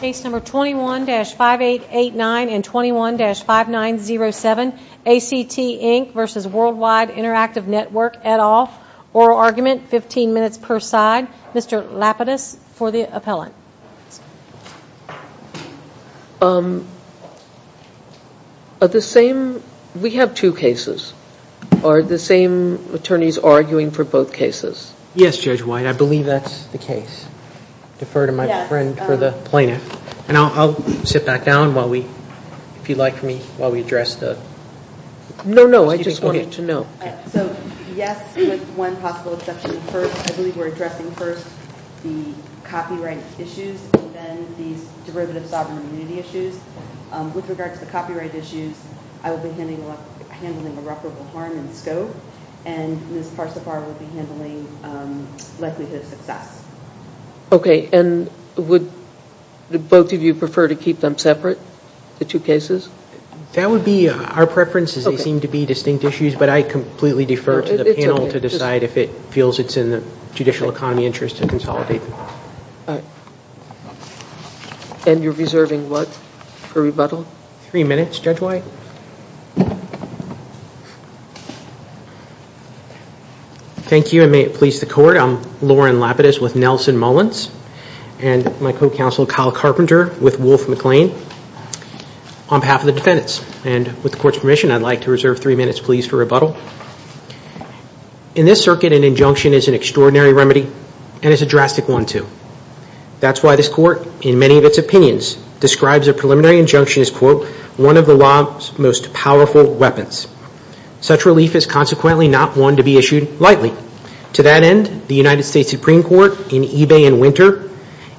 Case number 21-5889 and 21-5907 ACT Inc v. Worldwide Interactive Network et al. Oral argument, 15 minutes per side. Mr. Lapidus for the appellant. We have two cases. Are the same attorneys arguing for both cases? Yes, Judge Lapidus and my friend for the plaintiff. And I'll sit back down while we, if you'd like for me, while we address the... No, no, I just wanted to know. So, yes, with one possible exception first, I believe we're addressing first the copyright issues and then these derivative sovereign immunity issues. With regard to the copyright issues, I will be handling irreparable harm in scope and Ms. Parsifar will be handling likelihood of success. Okay. And would both of you prefer to keep them separate, the two cases? That would be our preferences. They seem to be distinct issues, but I completely defer to the panel to decide if it feels it's in the judicial economy interest to consolidate. And you're reserving what for rebuttal? Three minutes, Judge White. Thank you and may it please the court. I'm Loren Lapidus with Nelson Mullins and my co-counsel Kyle Carpenter with Wolf McLean on behalf of the defendants. And with the court's permission, I'd like to reserve three minutes, please, for rebuttal. In this circuit, an injunction is an extraordinary remedy and it's a drastic one, too. That's why this court, in many of of the law's most powerful weapons. Such relief is consequently not one to be issued lightly. To that end, the United States Supreme Court in Ebay in winter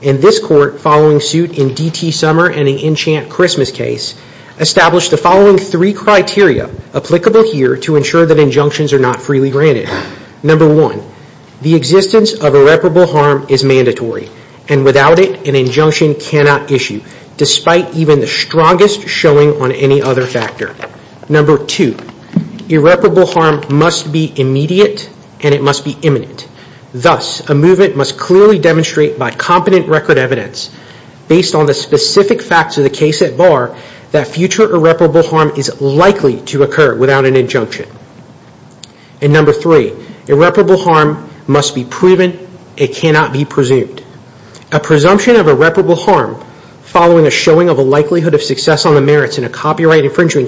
and this court following suit in DT Summer and the Enchant Christmas case established the following three criteria applicable here to ensure that injunctions are not freely granted. Number one, the existence of irreparable harm is mandatory and without it, an injunction cannot issue despite even the strongest showing on any other factor. Number two, irreparable harm must be immediate and it must be imminent. Thus, a movement must clearly demonstrate by competent record evidence based on the specific facts of the case at bar that future irreparable harm is likely to occur without an injunction. And number three, irreparable harm must be proven. And it cannot be presumed. A presumption of irreparable harm following a showing of a likelihood of success on the merits in a copyright infringement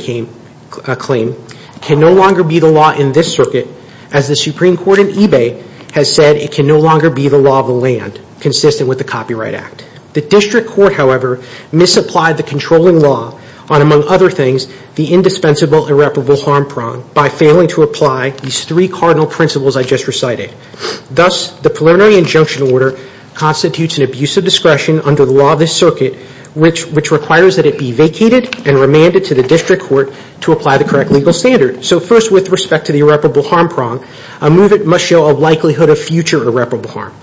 claim can no longer be the law in this circuit as the Supreme Court in Ebay has said it can no longer be the law of the land consistent with the Copyright Act. The District Court, however, misapplied the controlling law on, among other things, the indispensable irreparable harm by failing to apply these three cardinal principles I just recited. Thus, the preliminary injunction order constitutes an abuse of discretion under the law of this circuit which requires that it be vacated and remanded to the District Court to apply the correct legal standard. So first, with respect to the irreparable harm prong, a movement must show a likelihood of future irreparable harm.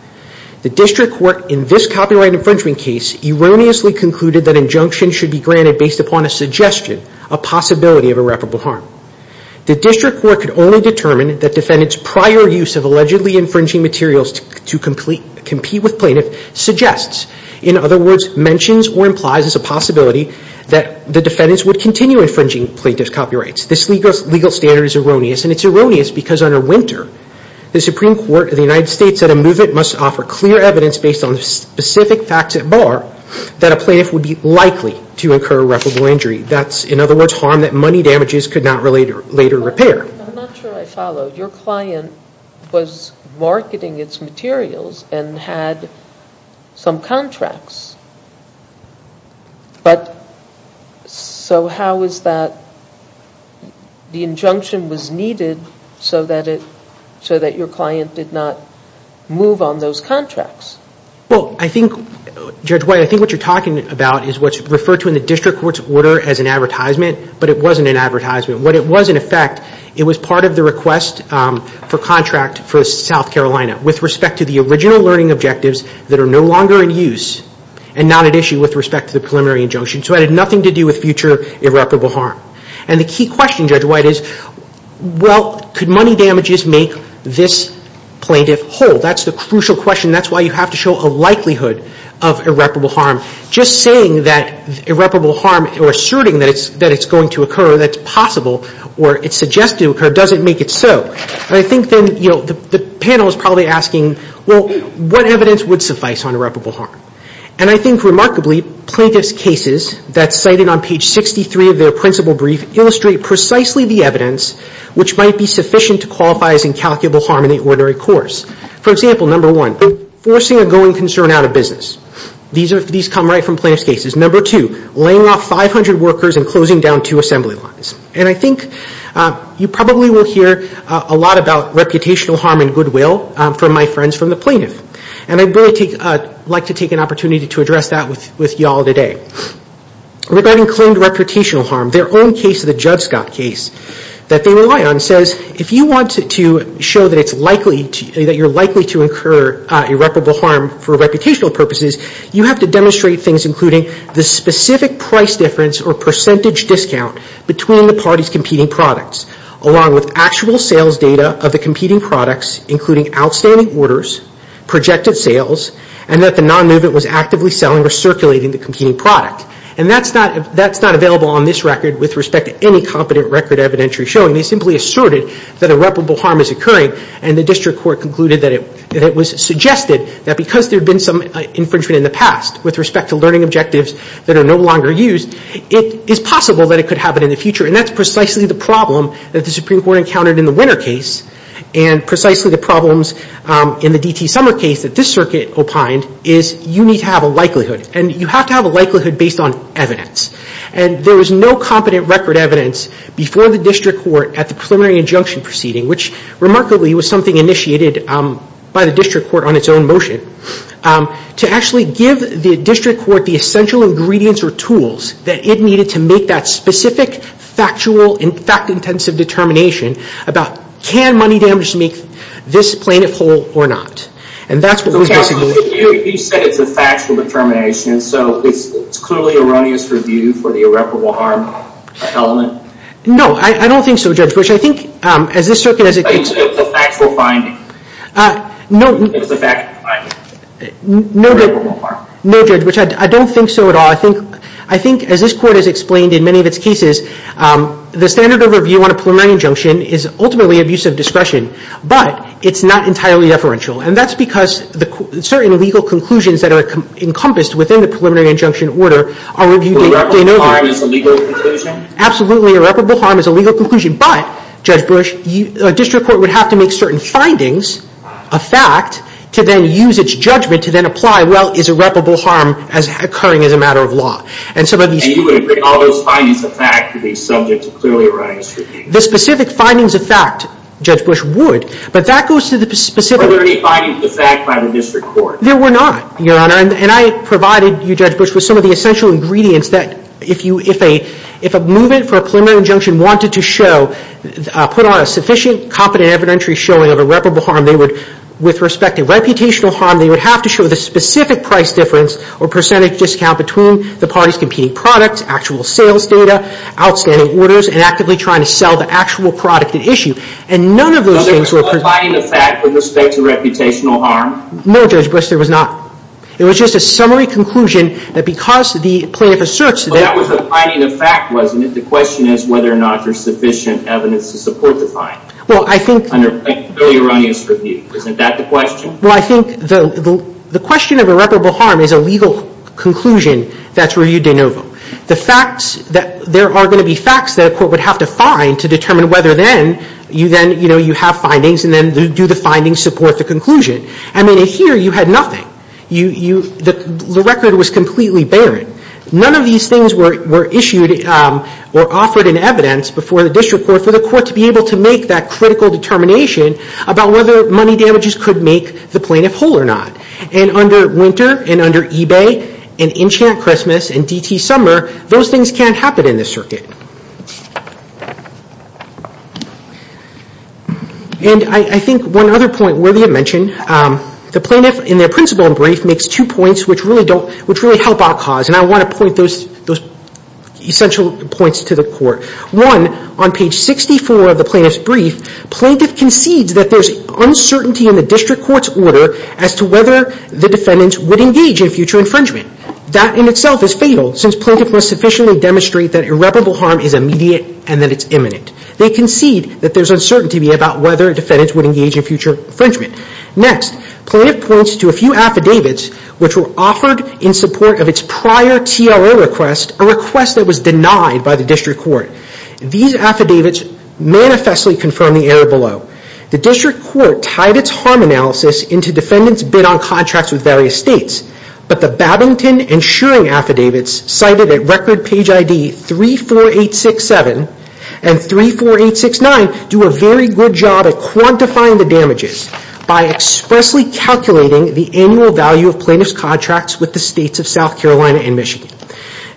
The District Court in this copyright infringement case erroneously concluded that injunctions should be granted based upon a suggestion, a possibility of The Court could only determine that defendants' prior use of allegedly infringing materials to compete with plaintiff suggests, in other words, mentions or implies as a possibility that the defendants would continue infringing plaintiff's copyrights. This legal standard is erroneous and it's erroneous because under Winter, the Supreme Court of the United States said a movement must offer clear evidence based on the specific facts at bar that a plaintiff would be likely to incur irreparable injury. That's, in other words, harm that I'm not sure I followed. Your client was marketing its materials and had some contracts. But so how is that the injunction was needed so that it, so that your client did not move on those contracts? Well, I think, Judge White, I think what you're talking about is what's referred to in the District Court's order as an advertisement, but it wasn't an advertisement. What it was, in effect, it was part of the request for contract for South Carolina with respect to the original learning objectives that are no longer in use and not at issue with respect to the preliminary injunction. So it had nothing to do with future irreparable harm. And the key question, Judge White, is well, could money damages make this plaintiff whole? That's the crucial question. That's why you have to show a likelihood of irreparable harm. Just saying that irreparable harm or asserting that it's going to occur, that's impossible, or it's suggested to occur, doesn't make it so. And I think then, you know, the panel is probably asking, well, what evidence would suffice on irreparable harm? And I think remarkably plaintiff's cases that's cited on page 63 of their principal brief illustrate precisely the evidence which might be sufficient to qualify as incalculable harm in the ordinary course. For example, number one, forcing a going concern out of business. These come right from plaintiff's cases. Number two, laying off 500 workers and closing down two assembly lines. And I think you probably will hear a lot about reputational harm and goodwill from my friends from the plaintiff. And I'd like to take an opportunity to address that with you all today. Regarding claimed reputational harm, their own case, the Judge Scott case that they rely on, says if you want to show that it's likely, that you're likely to incur irreparable harm for reputational purposes, you have to demonstrate things including the specific price difference or percentage discount between the parties' competing products, along with actual sales data of the competing products, including outstanding orders, projected sales, and that the non-movement was actively selling or circulating the competing product. And that's not, that's not available on this record with respect to any competent record evidentiary showing. They simply asserted that irreparable harm is occurring and the District Court concluded that it, that it was suggested that because there had been some infringement in the past with respect to learning objectives that are no longer used, it is possible that it could happen in the future. And that's precisely the problem that the Supreme Court encountered in the Winner case and precisely the problems in the DT Summer case that this circuit opined is you need to have a likelihood. And you have to have a likelihood based on evidence. And there was no competent record evidence before the District Court at the preliminary injunction proceeding, which remarkably was something initiated by the District Court on its own motion, to actually give the District Court the essential ingredients or tools that it needed to make that specific factual and fact-intensive determination about can money damage make this plaintiff whole or not. And that's what we're discussing here. Okay, so you said it's a factual determination, so it's clearly erroneous review for the irreparable harm element? No, I don't think so, Judge Bush. I think as this circuit, as it explained in many of its cases, the standard of review on a preliminary injunction is ultimately abusive discretion, but it's not entirely deferential. And that's because certain legal conclusions that are encompassed within the preliminary injunction order are reviewed day in, day out. Irreparable harm is a legal conclusion? Absolutely, irreparable harm is a legal conclusion. But, Judge Bush, a District Court would have to make certain findings a fact to then use its judgment to then apply, well, is irreparable harm occurring as a matter of law? And some of these... And you would make all those findings a fact to be subject to clearly erroneous review? The specific findings of fact, Judge Bush, would. But that goes to the specific... Are there any findings of fact by the District Court? There were not, Your Honor. And I provided you, Judge Bush, with some of the essential ingredients that if a movement for a preliminary injunction wanted to show, put on a sufficient, competent evidentiary showing of irreparable harm, they would, with respect to reputational harm, they would have to show the specific price difference or percentage discount between the parties' competing products, actual sales data, outstanding orders, and actively trying to sell the actual product at issue. And none of those things were... So there was no finding of fact with respect to reputational harm? No, Judge Bush, there was not. It was just a summary conclusion that because the plaintiff asserts that... Well, that was a finding of fact, wasn't it? The question is whether or not there's sufficient evidence to support the finding. Well, I think... Under a fairly erroneous review, isn't that the question? Well, I think the question of irreparable harm is a legal conclusion that's reviewed de novo. The facts that... There are going to be facts that a court would have to find to determine whether then, you then, you know, you have findings and then do the findings support the conclusion. I mean, in here, you had nothing. You... The record was completely barren. None of these things were issued or offered in evidence before the District Court for the court to be able to make that critical determination about whether money damages could make the plaintiff whole or not. And under Winter and under eBay and Enchant Christmas and DT Summer, those things can't happen in this circuit. And I think one other point worthy of mention, the plaintiff, in their principle brief, makes two points which really don't... Which really help our cause. And I want to point those essential points to the court. One, on page 64 of the plaintiff's brief, plaintiff concedes that there's uncertainty in the District Court's order as to whether the defendants would engage in future infringement. That in itself is fatal since plaintiff must sufficiently demonstrate that irreparable harm is immediate and that it's imminent. They concede that there's uncertainty about whether defendants would engage in future infringement. Next, plaintiff points to a plaintiff's prior TRO request, a request that was denied by the District Court. These affidavits manifestly confirm the error below. The District Court tied its harm analysis into defendants bid on contracts with various states. But the Babington and Shearing affidavits cited at record page ID 34867 and 34869 do a very good job at quantifying the damages by expressly calculating the annual value of plaintiff's contracts with the states of South Carolina and Michigan.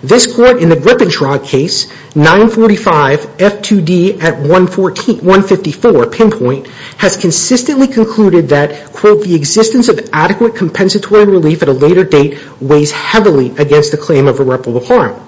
This court, in the Grip and Shrug case, 945 F2D at 154 pinpoint, has consistently concluded that, quote, the existence of adequate compensatory relief at a later date weighs heavily against the claim of irreparable harm.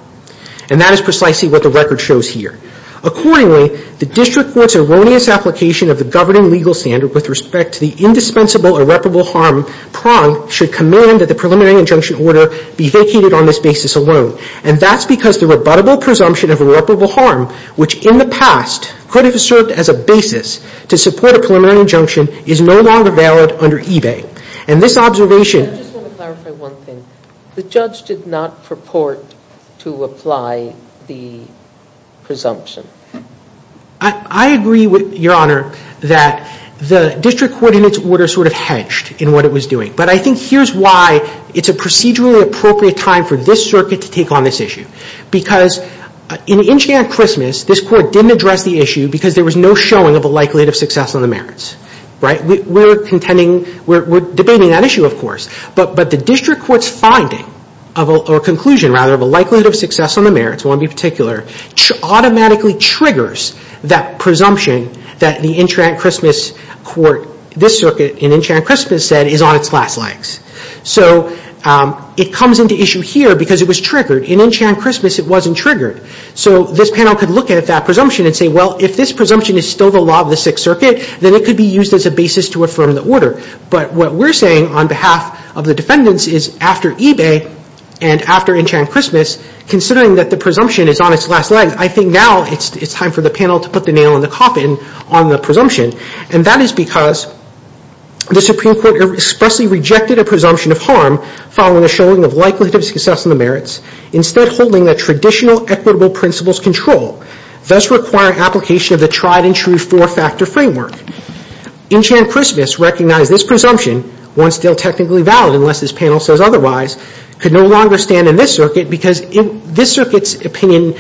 And that is precisely what the record shows here. Accordingly, the District Court's erroneous application of the governing legal standard with respect to the indispensable irreparable harm prong should command that the preliminary injunction order be vacated on this basis alone. And that's because the rebuttable presumption of irreparable harm, which in the past could have served as a basis to support a preliminary injunction, is no longer valid under eBay. And this observation- I just want to clarify one thing. The judge did not purport to apply the presumption. I agree, Your Honor, that the District Court, in its order, sort of hedged in what it was doing. But I think here's why it's a procedurally appropriate time for this circuit to take on this issue. Because in Inching at Christmas, this court didn't address the issue because there was no showing of a likelihood of success on the merits. Right? We're contending, we're debating that issue, of course. But the District Court's finding, or conclusion, rather, of triggers that presumption that the Inching at Christmas court, this circuit, in Inching at Christmas said, is on its last legs. So it comes into issue here because it was triggered. In Inching at Christmas, it wasn't triggered. So this panel could look at that presumption and say, well, if this presumption is still the law of the Sixth Circuit, then it could be used as a basis to affirm the order. But what we're saying on behalf of the defendants is after eBay and after Inching at Christmas, considering that the presumption is on its last legs, I think now it's time for the panel to put the nail in the coffin on the presumption. And that is because the Supreme Court expressly rejected a presumption of harm following a showing of likelihood of success on the merits, instead holding that traditional equitable principles control, thus requiring application of the tried and true four-factor framework. Inching at Christmas recognized this presumption, one still technically valid unless this panel says otherwise, could no longer stand in this circuit because this circuit's opinion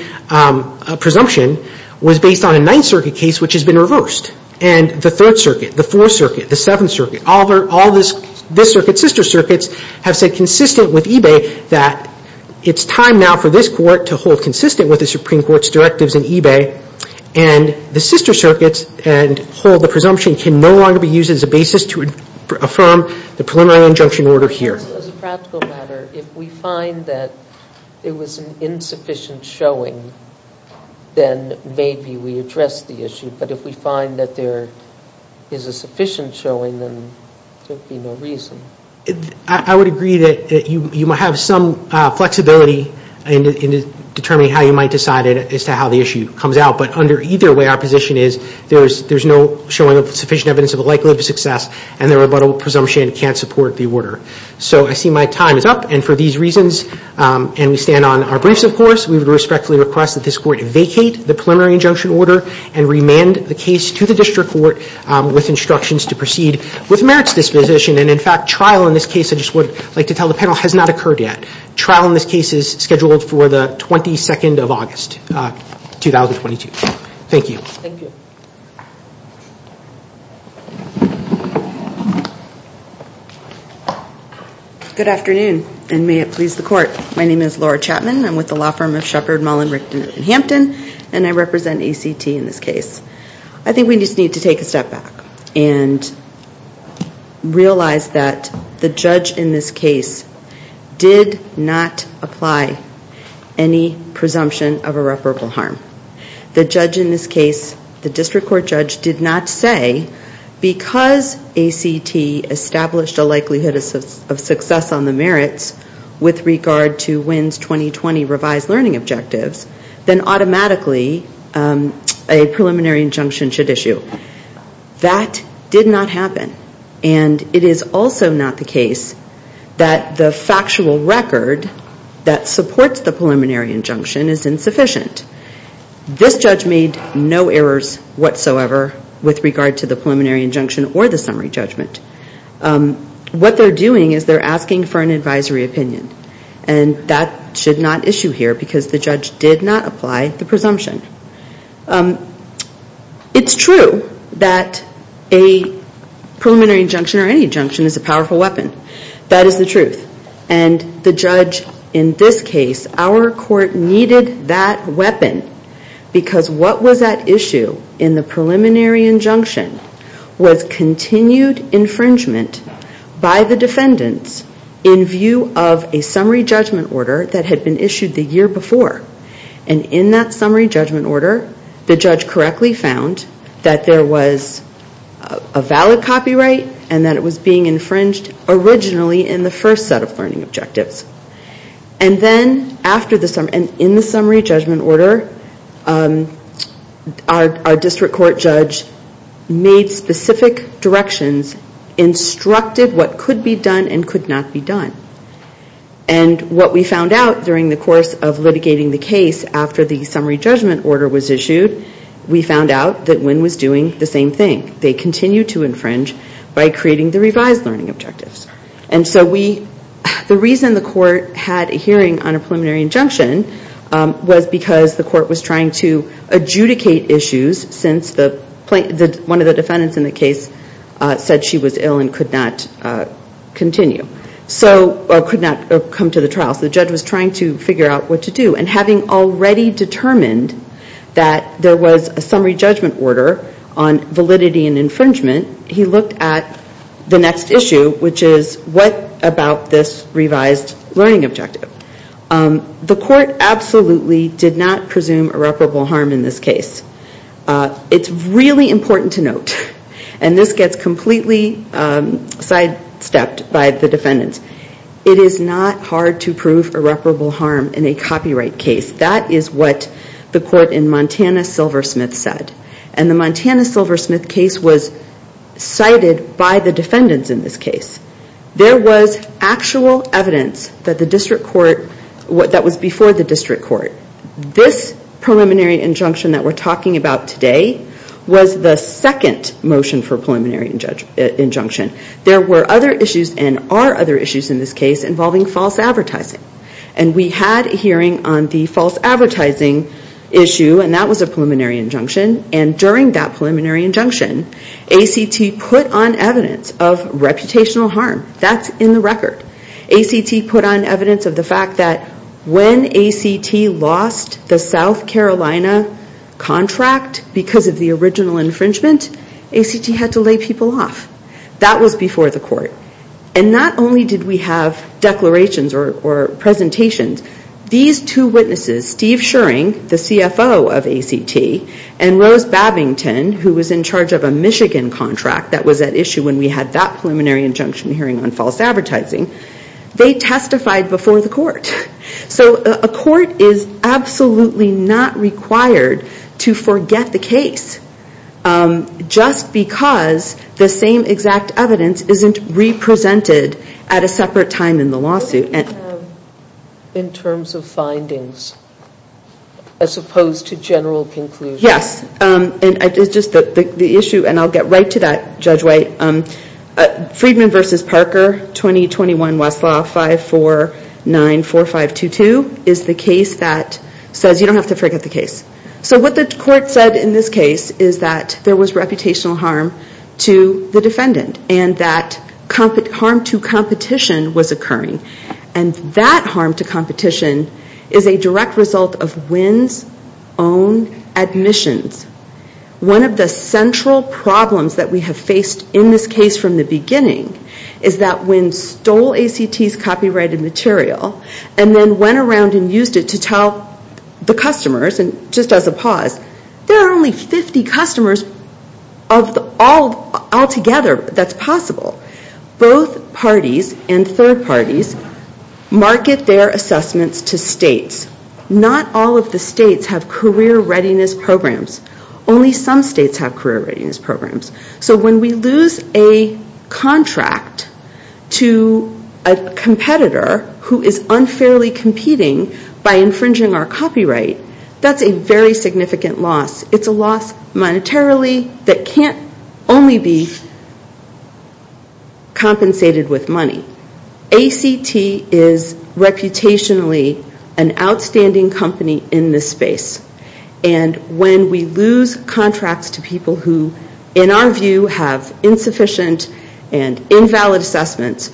presumption was based on a Ninth Circuit case which has been reversed. And the Third Circuit, the Fourth Circuit, the Seventh Circuit, all this circuit's sister circuits have said consistent with eBay that it's time now for this court to hold consistent with the Supreme Court's directives in eBay. And the sister circuits and hold the presumption can no longer be used as a basis to affirm the preliminary injunction order here. As a practical matter, if we find that it was an insufficient showing, then maybe we address the issue. But if we find that there is a sufficient showing, then there would be no reason. I would agree that you might have some flexibility in determining how you might decide as to how the issue comes out. But under either way, our position is there's no showing of likelihood of success and the rebuttal presumption can't support the order. So I see my time is up. And for these reasons, and we stand on our briefs, of course, we would respectfully request that this court vacate the preliminary injunction order and remand the case to the district court with instructions to proceed with merits disposition. And in fact, trial in this case, I just would like to tell the panel, has not occurred yet. Trial in this case is scheduled for the 22nd of August, 2022. Thank you. Good afternoon, and may it please the court. My name is Laura Chapman. I'm with the law firm of Shepard, Mullen, Richton & Hampton, and I represent ACT in this case. I think we just need to take a step back and realize that the judge in this case did not apply any presumption of irreparable harm. The judge in this case, the district court judge, did not say, because ACT established a likelihood of success on the merits with regard to WINS 2020 revised learning objectives, then automatically a preliminary injunction should issue. That did not happen. And it is also not the case that the factual record that supports the preliminary injunction is insufficient. This judge made no errors whatsoever with regard to the preliminary injunction or the summary judgment. What they're doing is they're asking for an advisory opinion. And that should not issue here because the judge did not apply the presumption. It's true that a preliminary injunction or any judge in this case, our court needed that weapon because what was at issue in the preliminary injunction was continued infringement by the defendants in view of a summary judgment order that had been issued the year before. And in that summary judgment order, the judge correctly found that there was a valid copyright and that it was being infringed originally in the first set of learning objectives. And then in the summary judgment order, our district court judge made specific directions, instructed what could be done and could not be done. And what we found out during the course of litigating the case after the summary judgment order was issued, we found out that WINS was doing the same thing. They continued to infringe by creating the revised learning objectives. And so we, the reason the court had a hearing on a preliminary injunction was because the court was trying to adjudicate issues since the plaintiff, one of the defendants in the case said she was ill and could not continue. So or could not come to the trial. So the judge was trying to figure out what to do. And having already determined that there was a summary judgment order on validity and infringement, he looked at the next issue, which is what about this revised learning objective? The court absolutely did not presume irreparable harm in this case. It's really important to note, and this gets completely sidestepped by the defendants, it is not hard to prove irreparable harm in a copyright case. That is what the court in Montana Silversmith said. And the Montana Silversmith case was cited by the defendants in this case. There was actual evidence that the district court, that was before the district court. This preliminary injunction that we're talking about today was the second motion for preliminary injunction. There were other issues and are other issues in this case involving false advertising. And we had a hearing on the false advertising issue and that was a preliminary injunction. And during that preliminary injunction, ACT put on evidence of reputational harm. That's in the record. ACT put on evidence of the fact that when ACT lost the South Carolina contract because of the original infringement, ACT had to lay people off. That was before the court. And not only did we have declarations or presentations, these two witnesses, Steve Schering, the CFO of ACT, and Rose Babington, who was in charge of a Michigan contract that was at issue when we had that preliminary injunction hearing on false advertising, they testified before the court. So a court is absolutely not required to forget the case just because the same exact evidence isn't re-presented at a separate time in the lawsuit. What do you have in terms of findings as opposed to general conclusions? Yes. It's just the issue, and I'll get right to that, Judge White. Friedman v. Parker, 2021 Westlaw 5494522 is the case that says you don't have to forget the case. So what the court said in this case is that there was reputational harm to the defendant and that harm to competition was occurring. And that harm to competition is a direct result of Winn's own admissions. One of the central problems that we have faced in this case from the beginning is that Winn stole ACT's copyrighted material and then went around and used it to tell the customers, and just as a pause, there are only 50 customers altogether that's possible. Both parties and third parties market their assessments to states. Not all of the states have career readiness programs. Only some states have career readiness programs. So when we lose a contract to a competitor who is unfairly competing by investing in infringing our copyright, that's a very significant loss. It's a loss monetarily that can't only be compensated with money. ACT is reputationally an outstanding company in this space. And when we lose contracts to people who, in our view, have insufficient and invalid assessments,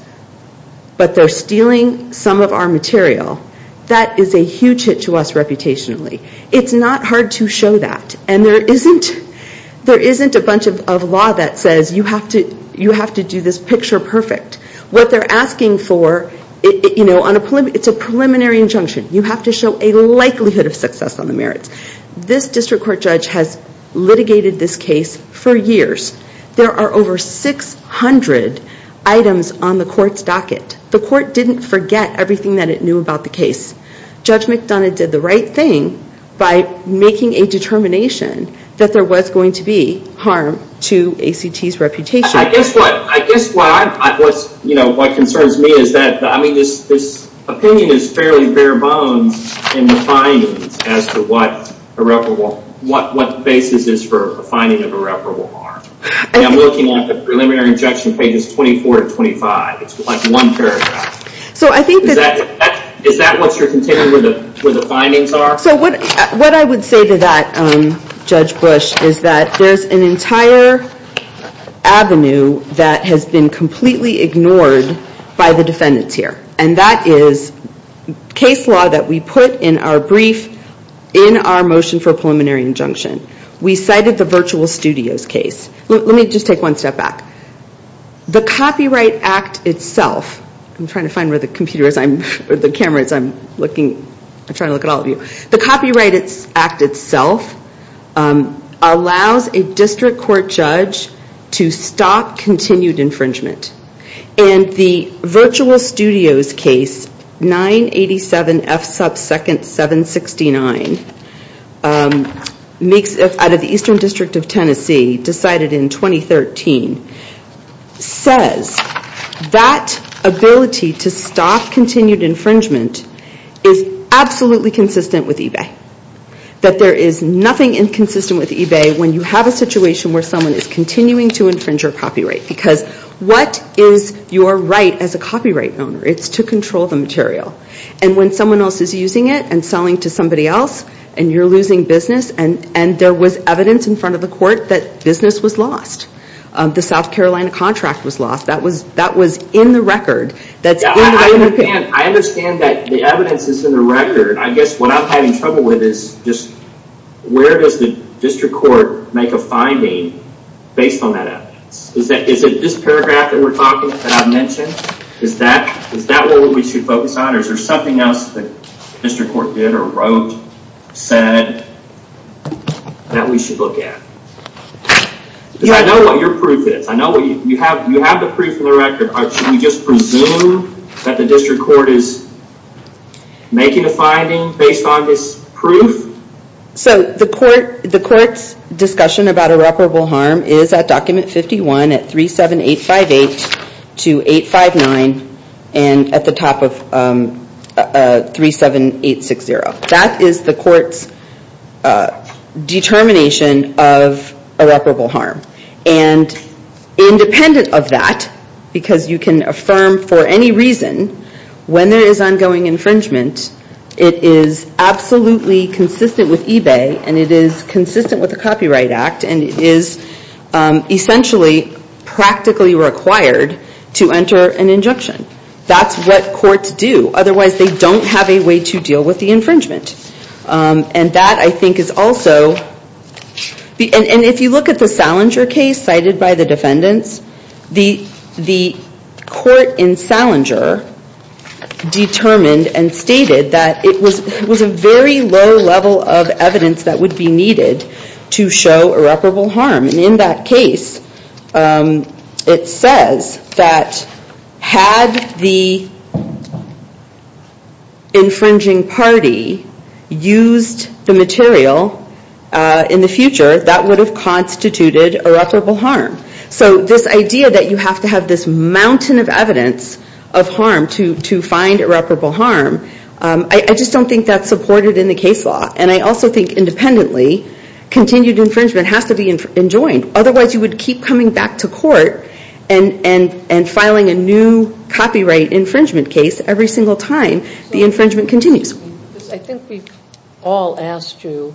but they're stealing some of our material, that is a huge hit to us reputationally. It's not hard to show that. And there isn't a bunch of law that says you have to do this picture perfect. What they're asking for, it's a preliminary injunction. You have to show a likelihood of success on the merits. This district court judge has litigated this case for years. There are over 600 items on the court's docket. The court didn't forget everything that it knew about the case. Judge McDonough did the right thing by making a determination that there was going to be harm to ACT's reputation. I guess what concerns me is that this opinion is fairly bare bones in the findings as to what basis is for the finding of irreparable harm. I'm looking at the preliminary injunction pages 24 to 25. It's like one paragraph. Is that what you're considering where the findings are? So what I would say to that, Judge Bush, is that there's an entire avenue that has been completely ignored by the defendants here. And that is case law that we put in our brief in our motion for preliminary injunction. We cited the Virtual Studios case. Let me just take one step back. The Copyright Act itself, I'm trying to find where the camera is, I'm trying to look at all of you. The Copyright Act itself allows a district court judge to stop continued infringement. And the Virtual Studios case, 987 F sub 2nd 769, makes it impossible for a district court judge out of the Eastern District of Tennessee, decided in 2013, says that ability to stop continued infringement is absolutely consistent with eBay. That there is nothing inconsistent with eBay when you have a situation where someone is continuing to infringe your copyright. Because what is your right as a copyright owner? It's to control the material. And when there was evidence in front of the court that business was lost. The South Carolina contract was lost. That was in the record. I understand that the evidence is in the record. I guess what I'm having trouble with is just where does the district court make a finding based on that evidence? Is it this paragraph that we're talking about that I mentioned? Is that what we should focus on? Or is there something else that the district court did or wrote, said, that we should look at? Because I know what your proof is. I know you have the proof in the record. Should we just presume that the district court is making a finding based on this proof? So the court's discussion about irreparable harm is at document 51 at 37858 to 859 and at the top of 37860. So the court's discussion about irreparable harm that is the court's determination of irreparable harm. And independent of that, because you can affirm for any reason, when there is ongoing infringement, it is absolutely consistent with eBay and it is consistent with the Copyright Act and it is essentially practically required to enter an injunction. That's what courts do. Otherwise they don't have a way to deal with the infringement. And that I think is also, and if you look at the Salinger case cited by the defendants, the court in Salinger determined and stated that it was a very low level of evidence that would be needed to show irreparable harm. And in that case it says that had the infringing party used the material in the future, that would have constituted irreparable harm. So this idea that you have to have this mountain of evidence of harm to find irreparable harm, I just don't think that's supported in the case law. And I also think independently, continued infringement has to be enjoined. Otherwise you would keep coming back to court and filing a new copyright infringement case every single time the infringement continues. I think we've all asked you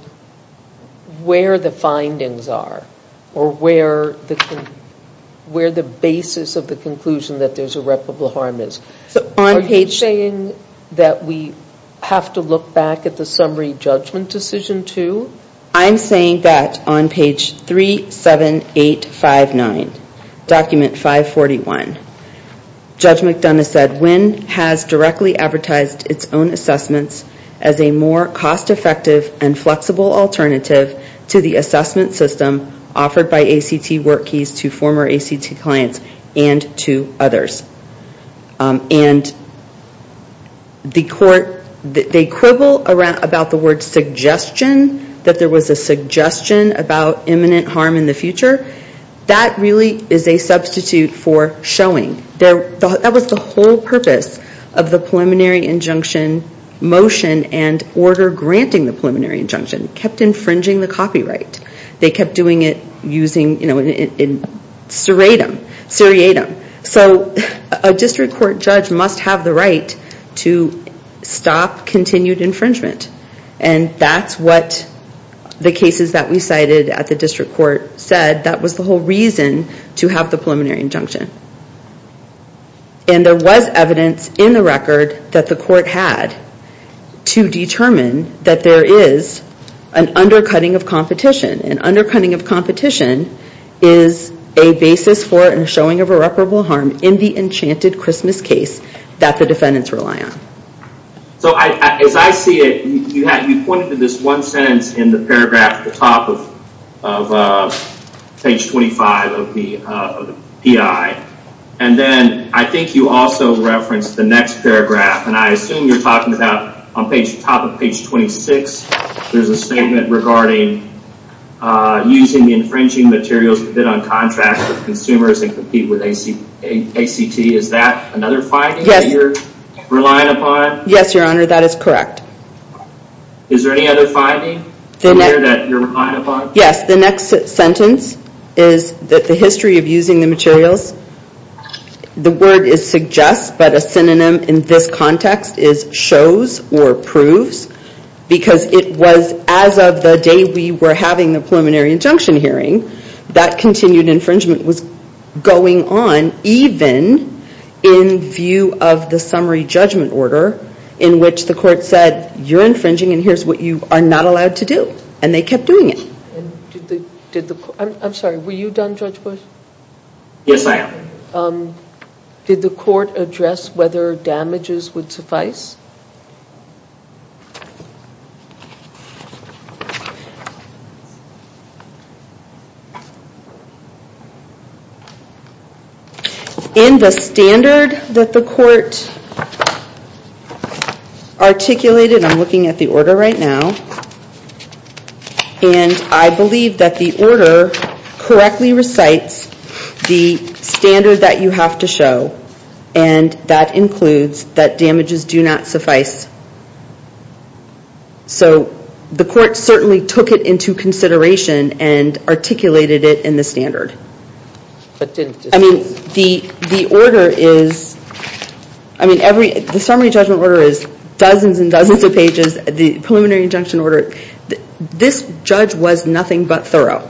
where the findings are or where the basis of the conclusion that there is irreparable harm is. Are you saying that we have to look back at the summary judgment decision too? I'm saying that on page 37859, document 541, Judge McDonough said Winn has directly advertised its own assessments as a more cost effective and flexible alternative to the assessment system offered by ACT work keys to former ACT clients and to others. And the court, they quibble about the word suggestion, that there was a suggestion about imminent harm in the future. That really is a substitute for showing. That was the whole purpose of the preliminary injunction motion and order granting the preliminary injunction. Kept infringing the copyright. They kept doing it using serratum. So a district court judge must have the right to stop continued infringement. And that's what the cases that we cited at the district court said. That was the whole reason to have the preliminary injunction. And there was evidence in the record that the court had to determine that there is an undercutting of competition. An undercutting of competition is a basis for and showing of irreparable harm in the enchanted Christmas case that the defendants rely on. So as I see it, you pointed to this one sentence in the paragraph at the top of page 25 of the PI. And then I think you also referenced the next paragraph. And I assume you're talking about on the top of page 26, there's a statement regarding using the infringing materials to rely on contracts with consumers and compete with ACT. Is that another finding that you're relying upon? Yes, your honor, that is correct. Is there any other finding that you're relying upon? Yes, the next sentence is that the history of using the materials, the word is suggest but a synonym in this context is shows or proves. Because it was as of the day we were having the preliminary injunction hearing, that continued infringement was going on even in view of the summary judgment order in which the court said, you're infringing and here's what you are not allowed to do. And they kept doing it. I'm sorry, were you done, Judge Bush? Yes, I am. Did the court address whether damages would suffice? Yes, your honor. I believe so. In the standard that the court articulated, I'm looking at the order right now, and I believe that the order correctly recites the standard that you have to show and that includes that damages do not suffice. So the court certainly took it into consideration and articulated it in the standard. The summary judgment order is dozens and dozens of pages, the preliminary injunction order, this judge was nothing but thorough.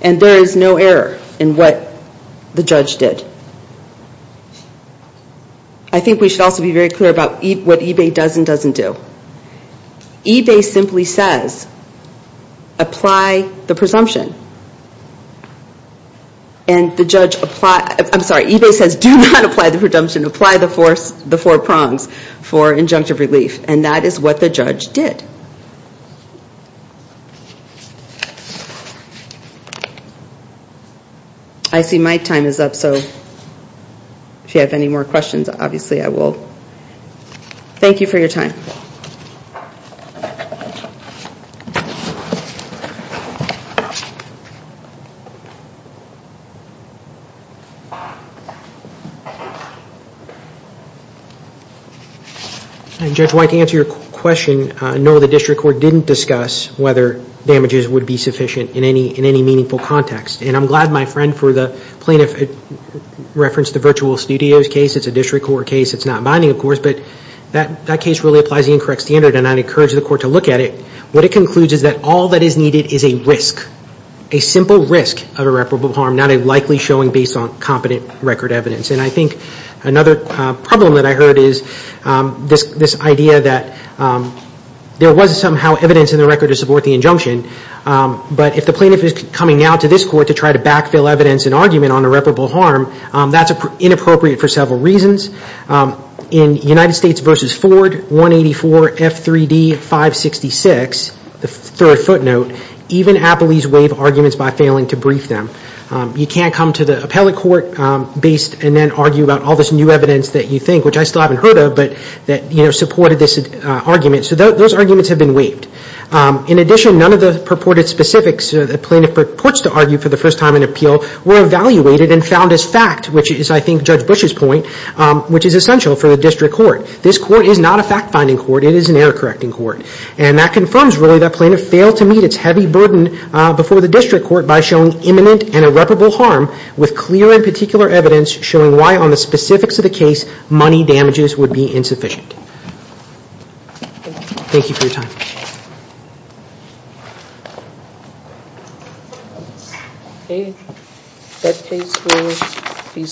And there is no error in what the judge did. I think we should also be very clear about what eBay does and doesn't do. eBay simply says, apply the presumption. And the judge, I'm sorry, eBay says do not apply the presumption, apply the four prongs for injunctive relief. And that is what the judge did. I see my time is up, so if you have any more questions, obviously I will. Thank you for your time. Judge White, to answer your question, no, the district court didn't discuss whether damages would be sufficient in any meaningful context. And I'm glad my friend for the plaintiff referenced the Virtual Studios case, it's a district court case, it's not binding of course, but that case really applies the incorrect standard and I encourage the court to look at it. What it concludes is that all that is needed is a risk, a simple risk of irreparable harm, not a likely showing based on competent record evidence. And I think another problem that I heard is this idea that there was somehow evidence in the record to support the injunction, but if the plaintiff is coming out to this court to try to backfill evidence and argument on irreparable harm, that's inappropriate for several reasons. In United States v. Ford 184 F3D 566, the third footnote, even appellees waive arguments by failing to brief them. You can't come to the appellate court and then argue about all this new evidence that you think, which I still haven't heard of, that supported this argument. So those arguments have been waived. In addition, none of the purported specifics the plaintiff purports to argue for the first time in appeal were evaluated and found as fact, which is I think Judge Bush's point, which is essential for the district court. This court is not a fact-finding court, it is an error-correcting court. And that confirms really that plaintiff failed to meet its heavy burden before the district court by showing imminent and irreparable harm with clear and particular evidence showing why on the specifics of the case, money damages would be insufficient. Thank you for your time. Okay, that case will be submitted.